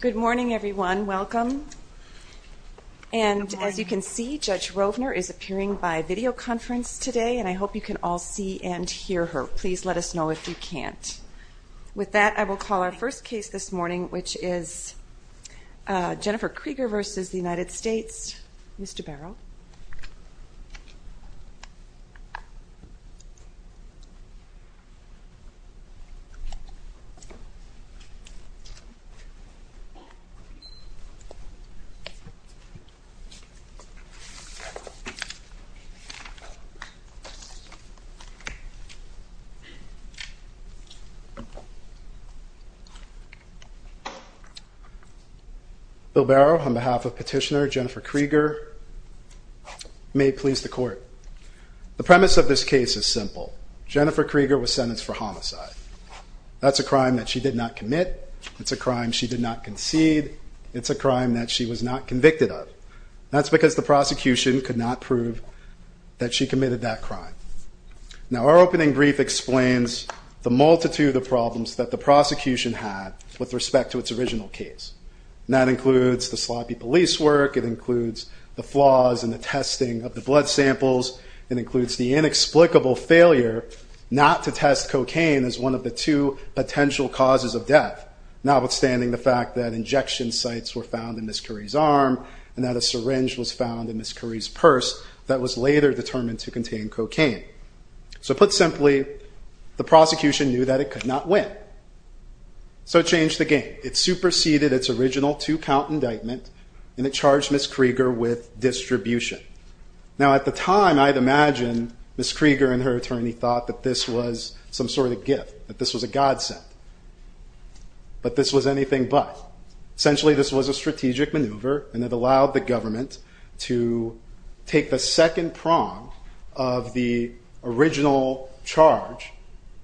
Good morning everyone, welcome. And as you can see Judge Rovner is appearing by video conference today and I hope you can all see and hear her. Please let us know if you can't. With that I will call our first case this morning which is Jennifer Krieger versus the United States. Mr. Barrow. Bill Barrow on behalf of petitioner Jennifer Krieger may please the court. The premise of this case is simple. Jennifer Krieger was sentenced for a crime she did not commit. It's a crime she did not concede. It's a crime that she was not convicted of. That's because the prosecution could not prove that she committed that crime. Now our opening brief explains the multitude of problems that the prosecution had with respect to its original case. That includes the sloppy police work, it includes the flaws in the testing of the blood samples, it includes the inexplicable failure not to test cocaine as one of the two potential causes of death, notwithstanding the fact that injection sites were found in Ms. Curry's arm and that a syringe was found in Ms. Curry's purse that was later determined to contain cocaine. So put simply, the prosecution knew that it could not win. So it changed the game. It superseded its original two count indictment and it charged Ms. Krieger with distribution. Now at the time I'd imagine Ms. Krieger and her attorney thought that this was some sort of gift, that this was a godsend. But this was anything but. Essentially this was a strategic maneuver and it allowed the government to take the second prong of the original charge,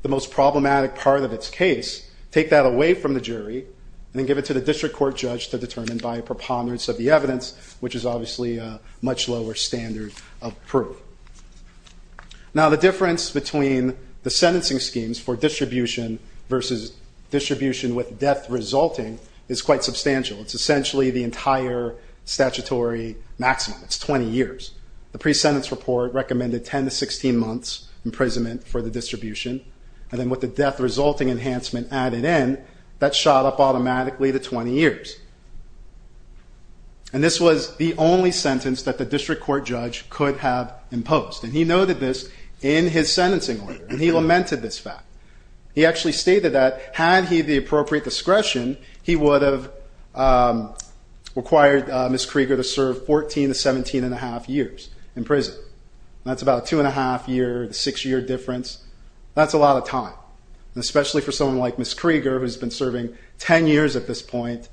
the most problematic part of its case, take that away from the jury and then give it to the district court judge to determine by preponderance of the evidence, which is obviously a much lower standard of proof. Now the difference between the sentencing schemes for distribution versus distribution with death resulting is quite substantial. It's essentially the entire statutory maximum. It's 20 years. The pre-sentence report recommended 10 to 16 months imprisonment for the distribution and then with the death resulting enhancement added in, that shot up automatically to 20 years. And this was the only sentence that the district court judge could have imposed. And he noted this in his sentencing order and he lamented this fact. He actually stated that had he the appropriate discretion, he would have required Ms. Krieger to serve 14 to 17 and a half years in prison. And that's about two and a half year, six year difference. That's a lot of time. And especially for someone like Ms. Krieger who's been serving 10 years at this point,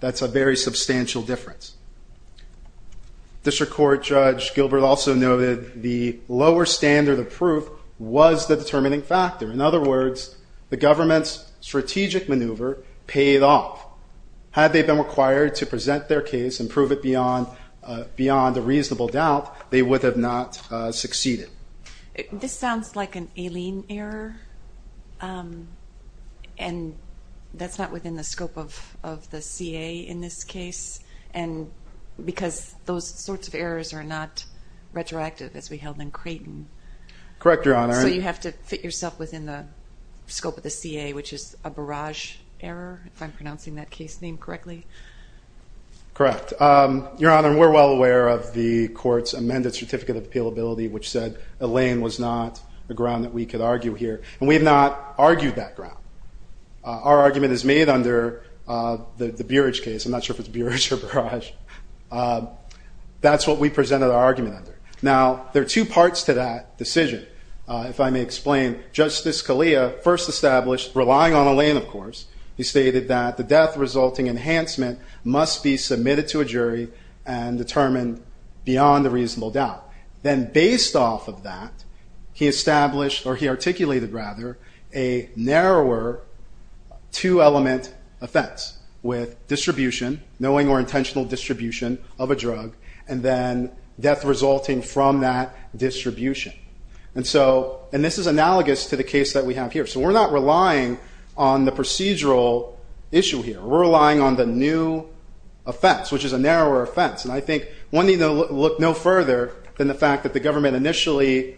that's a very substantial difference. District Court Judge Gilbert also noted the lower standard of proof was the determining factor. In other words, the government's strategic maneuver paid off. Had they been required to present their case and prove it beyond a reasonable doubt, they would have not succeeded. This sounds like an alien error and that's not within the scope of the CA in this case. And because those sorts of errors are not retroactive as we held in Creighton. Correct, Your Honor. So you have to fit yourself within the scope of the CA, which is a barrage error, if I'm pronouncing that case name correctly. Correct. Your Honor, we're well aware of the court's amended certificate of appealability, which said Elaine was not the ground that we could argue here. And we have not argued that ground. Our argument is made under the Beerage case. I'm not sure if it's Beerage or Barrage. That's what we presented our argument under. Now, there are two parts to that decision. If I may explain, Justice Scalia first established, relying on Elaine of course, he stated that the death-resulting enhancement must be submitted to a jury and determined beyond a reasonable doubt. Then based off of that, he established, or he said, knowing or intentional distribution of a drug and then death resulting from that distribution. And so, and this is analogous to the case that we have here. So we're not relying on the procedural issue here. We're relying on the new offense, which is a narrower offense. And I think one need to look no further than the fact that the government initially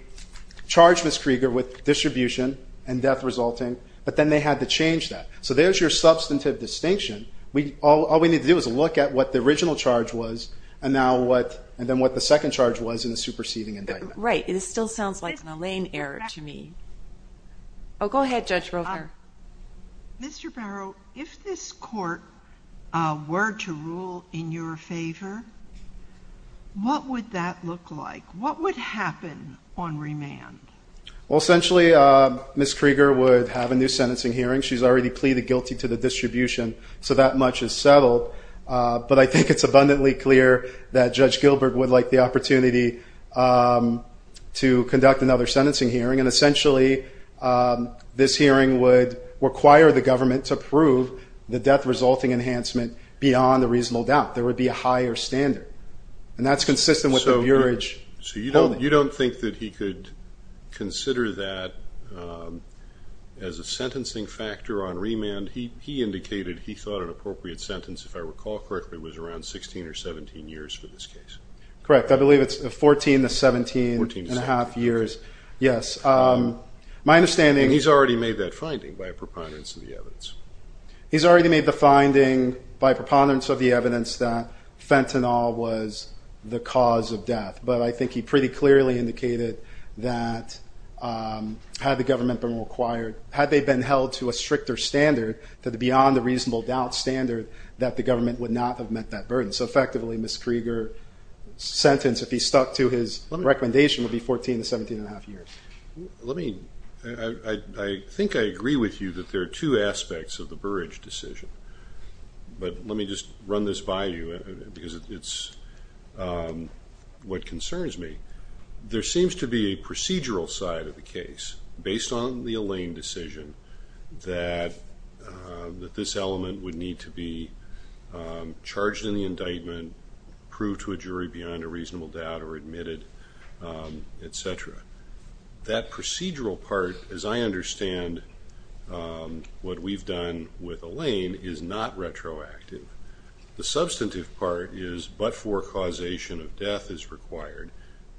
charged Ms. Krieger with distribution and death resulting, but then they had to change that. So there's your substantive distinction. We, all we need to do is look at what the original charge was and now what, and then what the second charge was in the superseding indictment. Right. It still sounds like an Elaine error to me. Oh, go ahead, Judge Roper. Mr. Barrow, if this court were to rule in your favor, what would that look like? What would happen on remand? Well, essentially Ms. Krieger would have a new sentencing hearing. She's already pleaded guilty to the distribution, so that much is settled. But I think it's abundantly clear that Judge Gilbert would like the opportunity to conduct another sentencing hearing. And essentially, this hearing would require the government to prove the death resulting enhancement beyond a reasonable doubt. There would be a higher standard. And that's consistent with the Bureauage. So you don't, you don't think that he could consider that as a sentencing factor on remand? He, he indicated he thought an appropriate sentence, if I recall correctly, was around 16 or 17 years for this case. Correct. I believe it's 14 to 17 and a half years. Yes. My understanding. He's already made that finding by preponderance of the evidence. He's already made the finding by preponderance of the evidence that fentanyl was the cause of death. But I think he pretty clearly indicated that had the government gone to a stricter standard, to the beyond the reasonable doubt standard, that the government would not have met that burden. So effectively, Ms. Krieger's sentence, if he stuck to his recommendation, would be 14 to 17 and a half years. Let me, I think I agree with you that there are two aspects of the Bureauage decision. But let me just run this by you because it's what concerns me. There seems to be a procedural side of the case based on the Alain decision that this element would need to be charged in the indictment, proved to a jury beyond a reasonable doubt or admitted, et cetera. That procedural part, as I understand what we've done with Alain, is not retroactive. The substantive part is but for causation of death is required.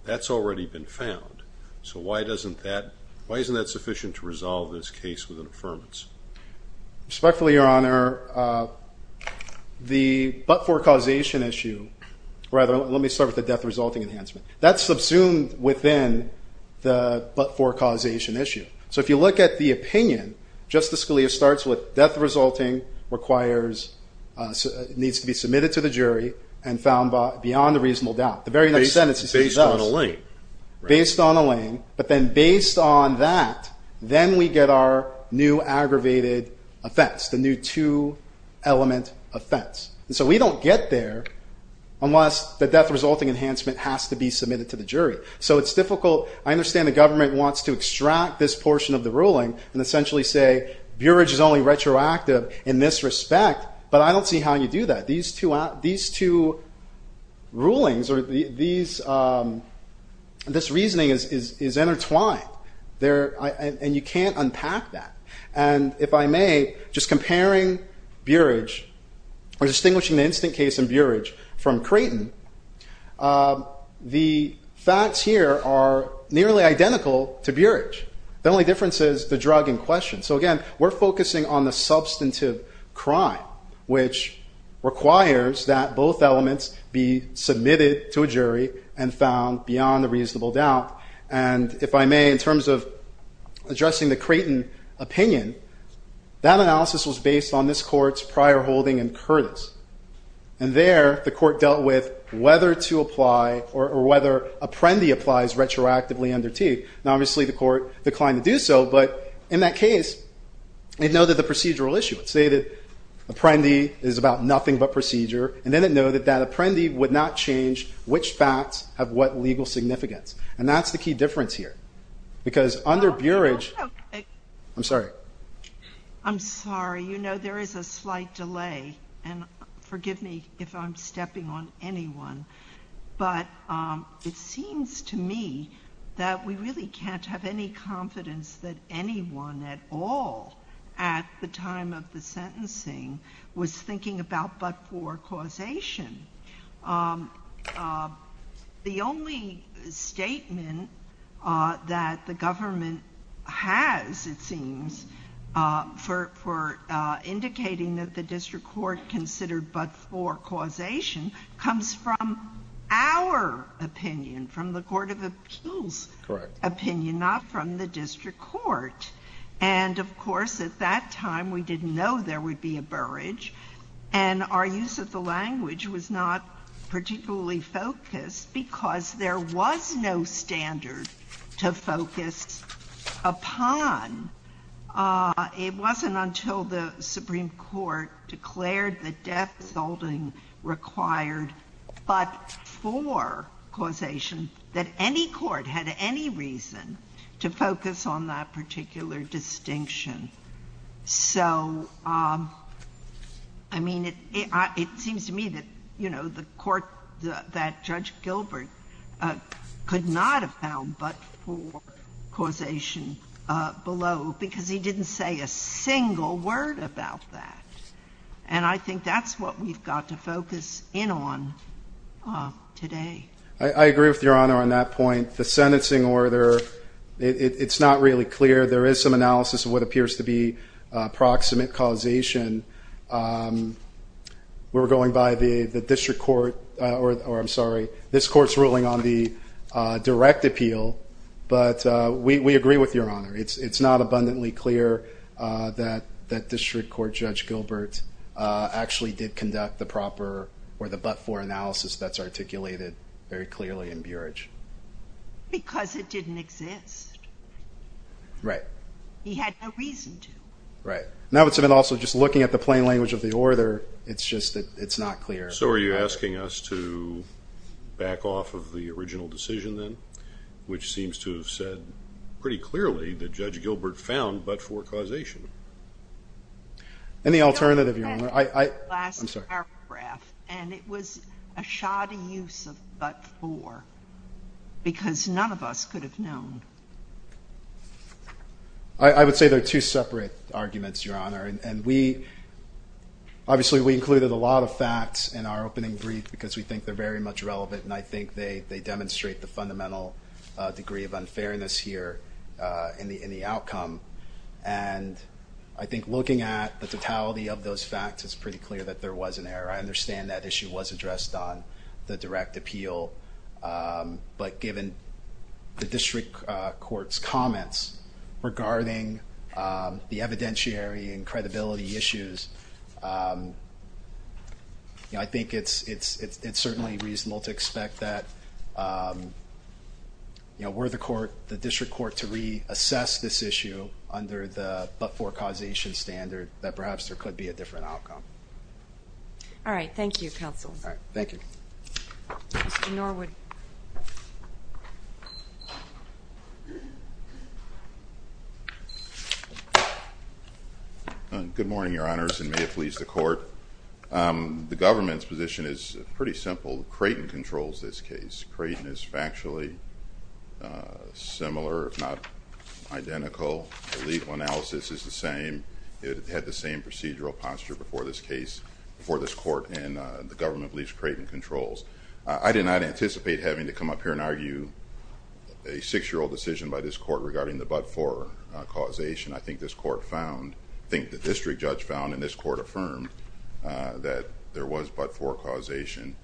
That's already been found. So why doesn't that, why isn't that sufficient to resolve this case with an affirmance? Respectfully, Your Honor, the but for causation issue, rather, let me start with the death resulting enhancement. That's subsumed within the but for causation issue. So if you look at the opinion, Justice Scalia starts with death resulting requires, needs to be submitted to the jury and found beyond a reasonable doubt. The very next sentence is based on Alain. But then based on that, then we get our new aggravated offense, the new two element offense. And so we don't get there unless the death resulting enhancement has to be submitted to the jury. So it's difficult. I understand the government wants to extract this portion of the ruling and essentially say Burrage is only retroactive in this respect. But I don't see how you do that. These two rulings or this reasoning is intertwined there and you can't unpack that. And if I may, just comparing Burrage or distinguishing the instant case in Burrage from Creighton, the facts here are nearly identical to Burrage. The only difference is the drug in question. So, again, we're focusing on the substantive crime, which requires that both elements be submitted to a jury and found beyond a reasonable doubt. And if I may, in terms of addressing the Creighton opinion, that analysis was based on this court's prior holding in Curtis. And there the court dealt with whether to apply or whether Apprendi applies retroactively under T. Now, obviously, the court declined to do so. But in that case, it noted the procedural issue. It stated Apprendi is about nothing but procedure. And then it noted that Apprendi would not change which facts have what legal significance. And that's the key difference here. Because under Burrage, I'm sorry. I'm sorry. You know, there is a slight delay. And forgive me if I'm stepping on anyone. But it seems to me that we really can't have any confidence that anyone at all at the time of the sentencing was thinking about but-for causation. The only statement that the government has, it seems, for indicating that the court was based on our opinion, from the court of appeals opinion, not from the district court. And of course, at that time, we didn't know there would be a Burrage. And our use of the language was not particularly focused because there was no standard to focus upon. It wasn't until the Supreme Court declared the death assaulting required but-for causation that any court had any reason to focus on that particular distinction. So, I mean, it seems to me that, you know, the court that Judge Gilbert could not have found but-for causation below because he didn't say a single word about that. And I think that's what we've got to focus in on today. I agree with Your Honor on that point. The sentencing order, it's not really clear. There is some analysis of what appears to be proximate causation. We're going by the district court or I'm sorry, this court's ruling on the direct appeal, but we agree with Your Honor. It's not abundantly clear that that district court Judge Gilbert actually did conduct the proper or the but-for analysis that's articulated very clearly in Burrage. Because it didn't exist. Right. He had no reason to. Right. Now, it's been also just looking at the plain language of the order. It's just that it's not clear. So are you asking us to back off of the original decision then, which seems to have said pretty clearly that Judge Gilbert found but-for causation. And the alternative, Your Honor, I'm sorry. And it was a shoddy use of but-for because none of us could have known. I would say they're two separate arguments, Your Honor. And we obviously we included a lot of facts in our opening brief because we think they're very much relevant. And I think they demonstrate the fundamental degree of unfairness here in the outcome. And I think looking at the totality of those facts, it's pretty clear that there was an error. I understand that issue was addressed on the direct appeal. But given the district court's comments regarding the evidentiary and credibility issues, I think it's certainly reasonable to expect that were the court, the district court to reassess this issue under the but-for causation standard, that perhaps there could be a different outcome. All right. Thank you, counsel. All right. Thank you. Mr. Norwood. Good morning, Your Honors, and may it please the court. The government's position is pretty simple. Creighton controls this case. Creighton is factually similar, if not identical. The legal analysis is the same. It had the same procedural posture before this case, before this court, and the government believes Creighton controls. I did not anticipate having to come up here and argue a six-year-old decision by this court regarding the but-for causation. I think this court found, I think the district judge found, and this court affirmed, that there was but-for causation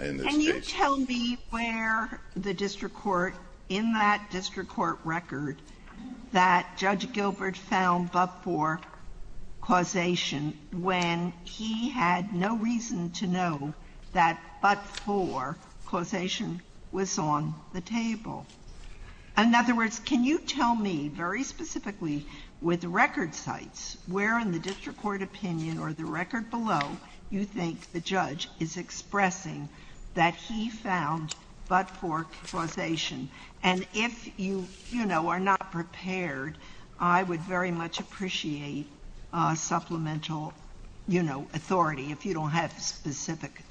in this case. Can you tell me where the district court, in that district court record, that Judge Gilbert found but-for causation when he had no reason to know that but-for causation was on the table? In other words, can you tell me very specifically with record sites, where in the district court opinion or the record below, you think the judge is expressing that he found but-for causation? And if you are not prepared, I would very much appreciate supplemental authority, if you don't have specific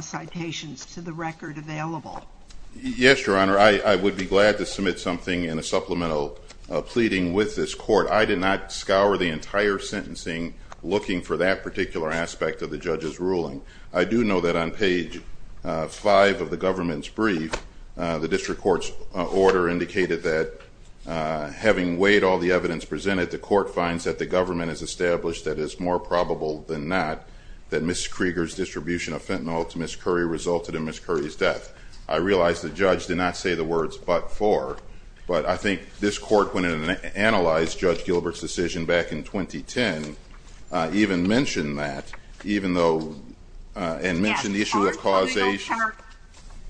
citations to the record available. Yes, Your Honor. I would be glad to submit something in a supplemental pleading with this court. I did not scour the entire sentencing looking for that particular aspect of the judge's ruling. I do know that on page five of the government's brief, the district court's order indicated that having weighed all the evidence presented, the court finds that the government has established that it's more probable than not that Ms. Krieger's distribution of fentanyl to Ms. Curry resulted in Ms. Curry's death. I realize the judge did not say the words but-for, but I think this court, when it analyzed Judge Gilbert's decision back in 2010, even mentioned that, even though, and mentioned the issue of causation. Yes, our court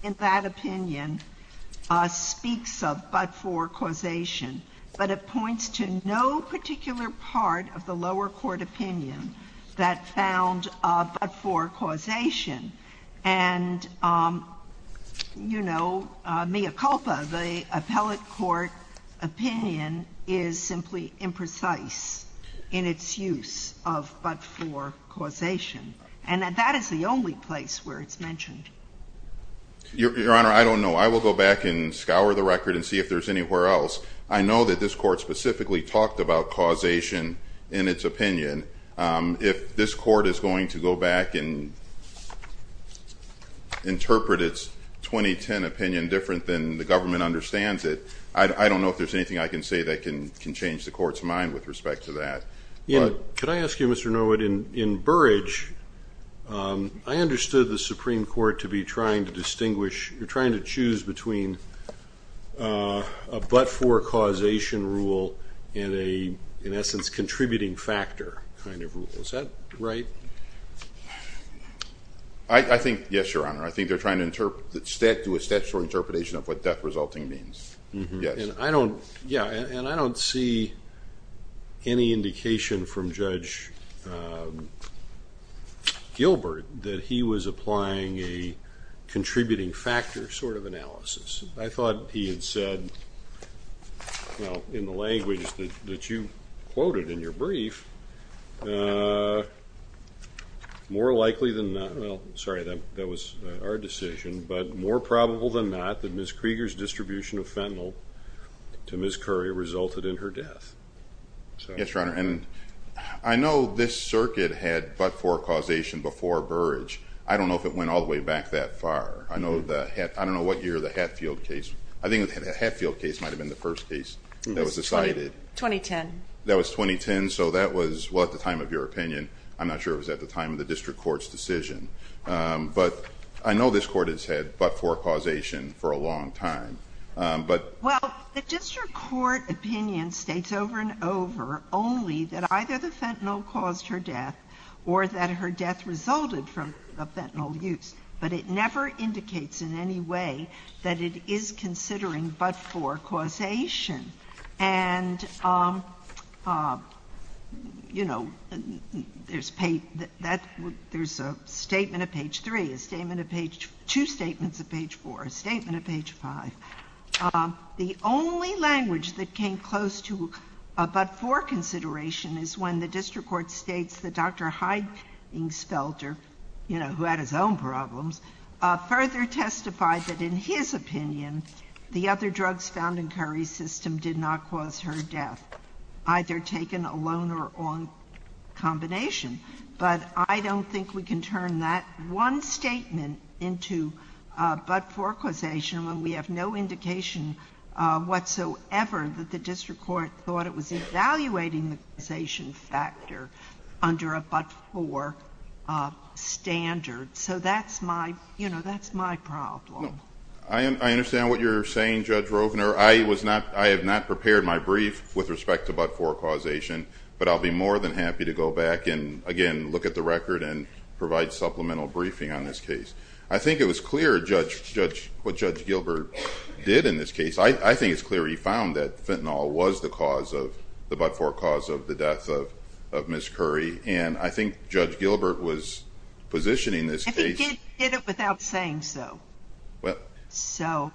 in that opinion speaks of but-for causation, but it points to no particular part of the lower court opinion that found a but-for causation. And, you know, mea culpa, the appellate court opinion is simply imprecise in its use of but-for causation, and that is the only place where it's mentioned. Your Honor, I don't know. I will go back and scour the record and see if there's anywhere else. I know that this court specifically talked about causation in its opinion. If this court is going to go back and interpret its 2010 opinion different than the government understands it, I don't know if there's anything I can say that can change the court's mind with respect to that. Yeah. Could I ask you, Mr. Norwood, in Burrage, I understood the Supreme Court to be trying to distinguish, you're trying to choose between a but-for causation rule and a, in essence, contributing factor. Is that right? I think, yes, Your Honor. I think they're trying to do a statutory interpretation of what death resulting means. Yes. And I don't, yeah, and I don't see any indication from Judge Gilbert that he was applying a contributing factor sort of analysis. I thought he had said, well, in the language that you quoted in your brief, more likely than not, well, sorry, that was our decision, but more probable than not that Ms. Krieger's distribution of fentanyl to Ms. Curry resulted in her death. Yes, Your Honor. And I know this circuit had but-for causation before Burrage. I don't know if it went all the way back that far. I don't know what year the Hatfield case, I think the Hatfield case might've been the first case that was decided. 2010. That was 2010. And so that was, well, at the time of your opinion, I'm not sure it was at the time of the district court's decision, but I know this court has had but-for causation for a long time, but. Well, the district court opinion states over and over only that either the fentanyl caused her death or that her death resulted from the fentanyl use, but it never indicates in any way that it is considering but-for causation. And, you know, there's a statement of page three, a statement of page, two statements of page four, a statement of page five. The only language that came close to a but-for consideration is when the district court states that Dr. Heidingsfelter, you know, who had his own problems, further testified that in his opinion, the other drugs found in Curry's system did not cause her death, either taken alone or on combination. But I don't think we can turn that one statement into a but-for causation when we have no indication whatsoever that the district court thought it was evaluating the causation factor under a but-for standard. So that's my, you know, that's my problem. I understand what you're saying, Judge Rovner. I was not, I have not prepared my brief with respect to but-for causation, but I'll be more than happy to go back and again, look at the record and provide supplemental briefing on this case. I think it was clear what Judge Gilbert did in this case. I think it's clear he found that fentanyl was the cause of the but-for cause of the death of Ms. Curry. And I think Judge Gilbert was positioning this case. If he did it without saying so. Well. So.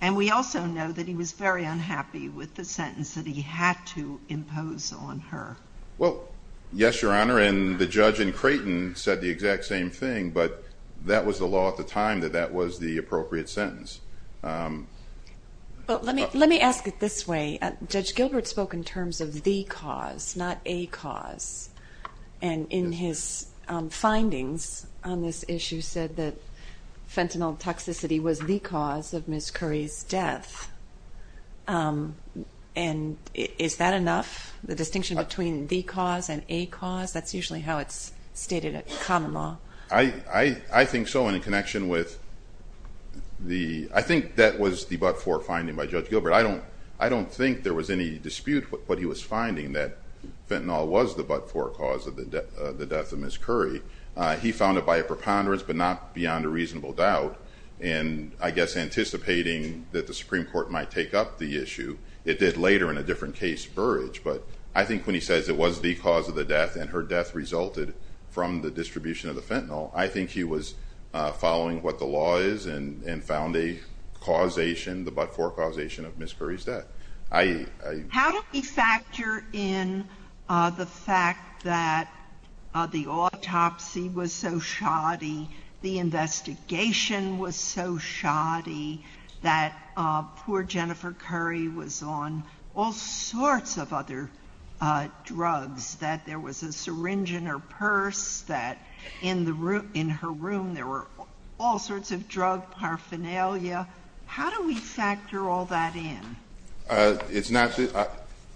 And we also know that he was very unhappy with the sentence that he had to impose on her. Well, yes, Your Honor. And the judge in Creighton said the exact same thing, but that was the law at the time that that was the appropriate sentence. Well, let me, let me ask it this way. Judge Gilbert spoke in terms of the cause, not a cause. And in his findings on this issue said that fentanyl toxicity was the cause of Ms. Curry's death. Um, and is that enough? The distinction between the cause and a cause? That's usually how it's stated at common law. I, I, I think so. And in connection with the, I think that was the but-for finding by Judge Gilbert. I don't, I don't think there was any dispute with what he was finding that fentanyl was the but-for cause of the death of Ms. Curry. He found it by a preponderance, but not beyond a reasonable doubt. And I guess anticipating that the Supreme Court might take up the issue. It did later in a different case, Burrage. But I think when he says it was the cause of the death and her death resulted from the distribution of the fentanyl, I think he was following what the law is and found the causation, the but-for causation of Ms. Curry's death. I, I. How do we factor in, uh, the fact that, uh, the autopsy was so shoddy, the investigation was so shoddy that, uh, poor Jennifer Curry was on all sorts of other, uh, drugs that there was a syringe in her purse that in the room, in her room, there were all sorts of drug paraphernalia. How do we factor all that in? Uh, it's not,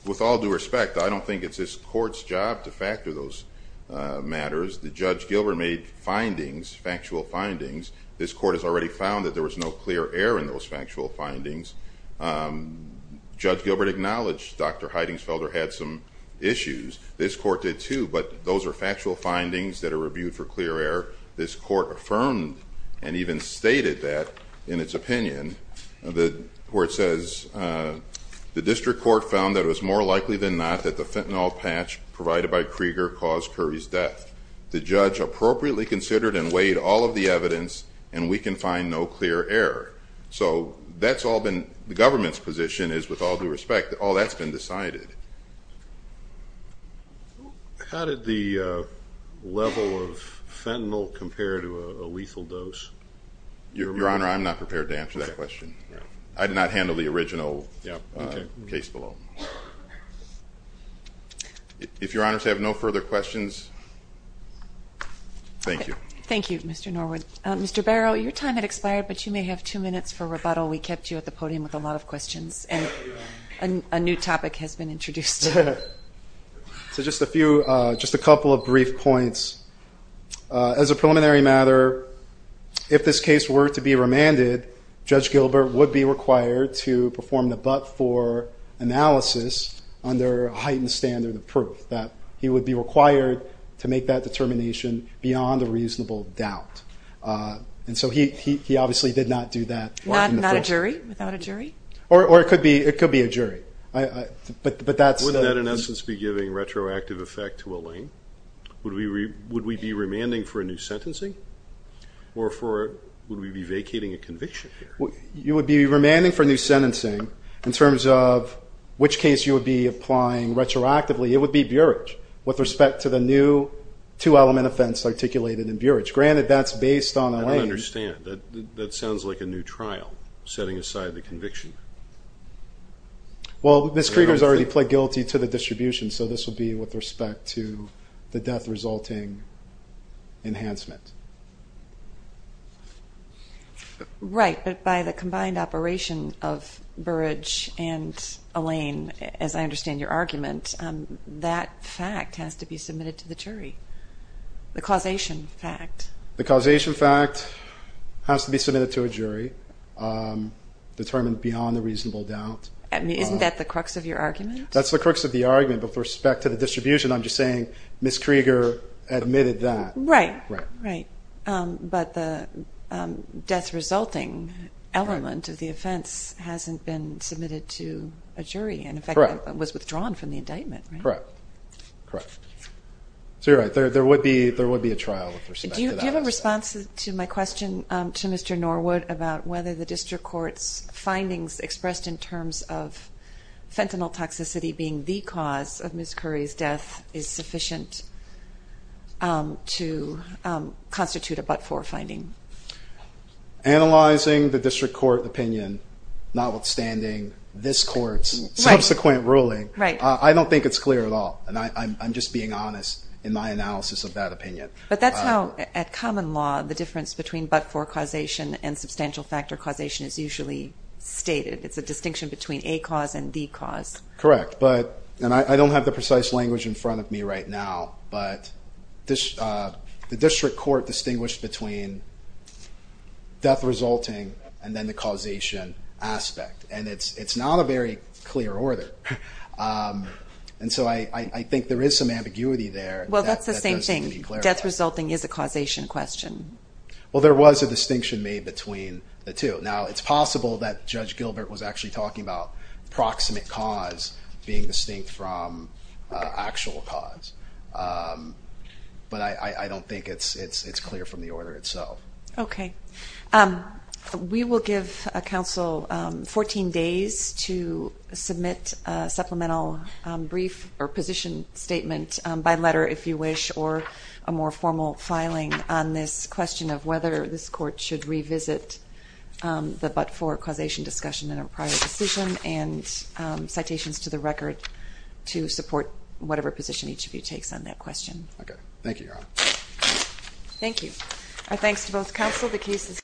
with all due respect, I don't think it's this court's job to factor those, uh, matters. The Judge Gilbert made findings, factual findings. This court has already found that there was no clear air in those factual findings. Um, Judge Gilbert acknowledged Dr. Heidingsfelder had some issues. This court did too, but those are factual findings that are reviewed for clear air. This court affirmed and even stated that in its opinion, the court says, uh, the district court found that it was more likely than not that the fentanyl patch provided by Krieger caused Curry's death. The judge appropriately considered and weighed all of the evidence and we can find no clear error. So that's all been, the government's position is with all due respect, all that's been decided. How did the, uh, level of fentanyl compare to a lethal dose? Your Honor, I'm not prepared to answer that question. I did not handle the original case below. If your honors have no further questions. Thank you. Thank you, Mr. Norwood. Um, Mr. Barrow, your time had expired, but you may have two minutes for rebuttal. We kept you at the podium with a lot of questions and a new topic has been introduced. So just a few, uh, just a couple of brief points, uh, as a preliminary matter, if this case were to be remanded, judge Gilbert would be required to perform the but for analysis under heightened standard of proof that he would be required to make that determination beyond a reasonable doubt. Uh, and so he, he, he obviously did not do that. Why not a jury without a jury? Or, or it could be, it could be a jury. I, I, but, but that's wouldn't that in essence be giving retroactive effect to Elaine? Would we re would we be remanding for a new sentencing or for, would we be vacating a conviction here? You would be remanding for new sentencing in terms of which case you would be applying retroactively. It would be Burich with respect to the new two element offense articulated in Burich. Granted that's based on Elaine. I don't understand that. That sounds like a new trial setting aside the conviction. Well, Ms. Krieger has already pled guilty to the distribution, so this will be with respect to the death resulting enhancement. Right. But by the combined operation of Burich and Elaine, as I understand your argument, um, that fact has to be submitted to the jury. The causation fact. The causation fact has to be submitted to a jury, um, determined beyond the reasonable doubt. I mean, isn't that the crux of your argument? That's the crux of the argument, but with respect to the distribution, I'm just saying Ms. Krieger admitted that. Right, right. Um, but the, um, death resulting element of the offense hasn't been submitted to a jury and in fact was withdrawn from the indictment. Correct. Correct. So you're right there. There would be, there would be a trial. Do you have a response to my question to Mr. Norwood about whether the district court's findings expressed in terms of fentanyl toxicity being the cause of Ms. Curry's death is sufficient, um, to, um, constitute a but-for finding? Analyzing the district court opinion, notwithstanding this court's subsequent ruling, I don't think it's clear at all. And I, I'm just being honest in my analysis of that opinion. But that's how at common law, the difference between but-for causation and substantial factor causation is usually stated. It's a distinction between a cause and the cause. Correct. But, and I don't have the precise language in front of me right now, but this, uh, the district court distinguished between death resulting and then the causation aspect. And it's, it's not a very clear order. Um, and so I, I think there is some ambiguity there. Well, that's the same thing. Death resulting is a causation question. Well, there was a distinction made between the two. Now it's possible that Judge Gilbert was actually talking about proximate cause being distinct from actual cause. Um, but I, I, I don't think it's, it's, it's clear from the order itself. Okay. Um, we will give a counsel, um, 14 days to submit a supplemental, um, brief or position statement, um, by letter if you wish, or a more formal filing on this question of whether this court should revisit, um, the, but for causation discussion in a prior decision and, um, citations to the record to support whatever position each of you takes on that question. Okay. Thank you. Thank you. Our thanks to both counsel. The cases.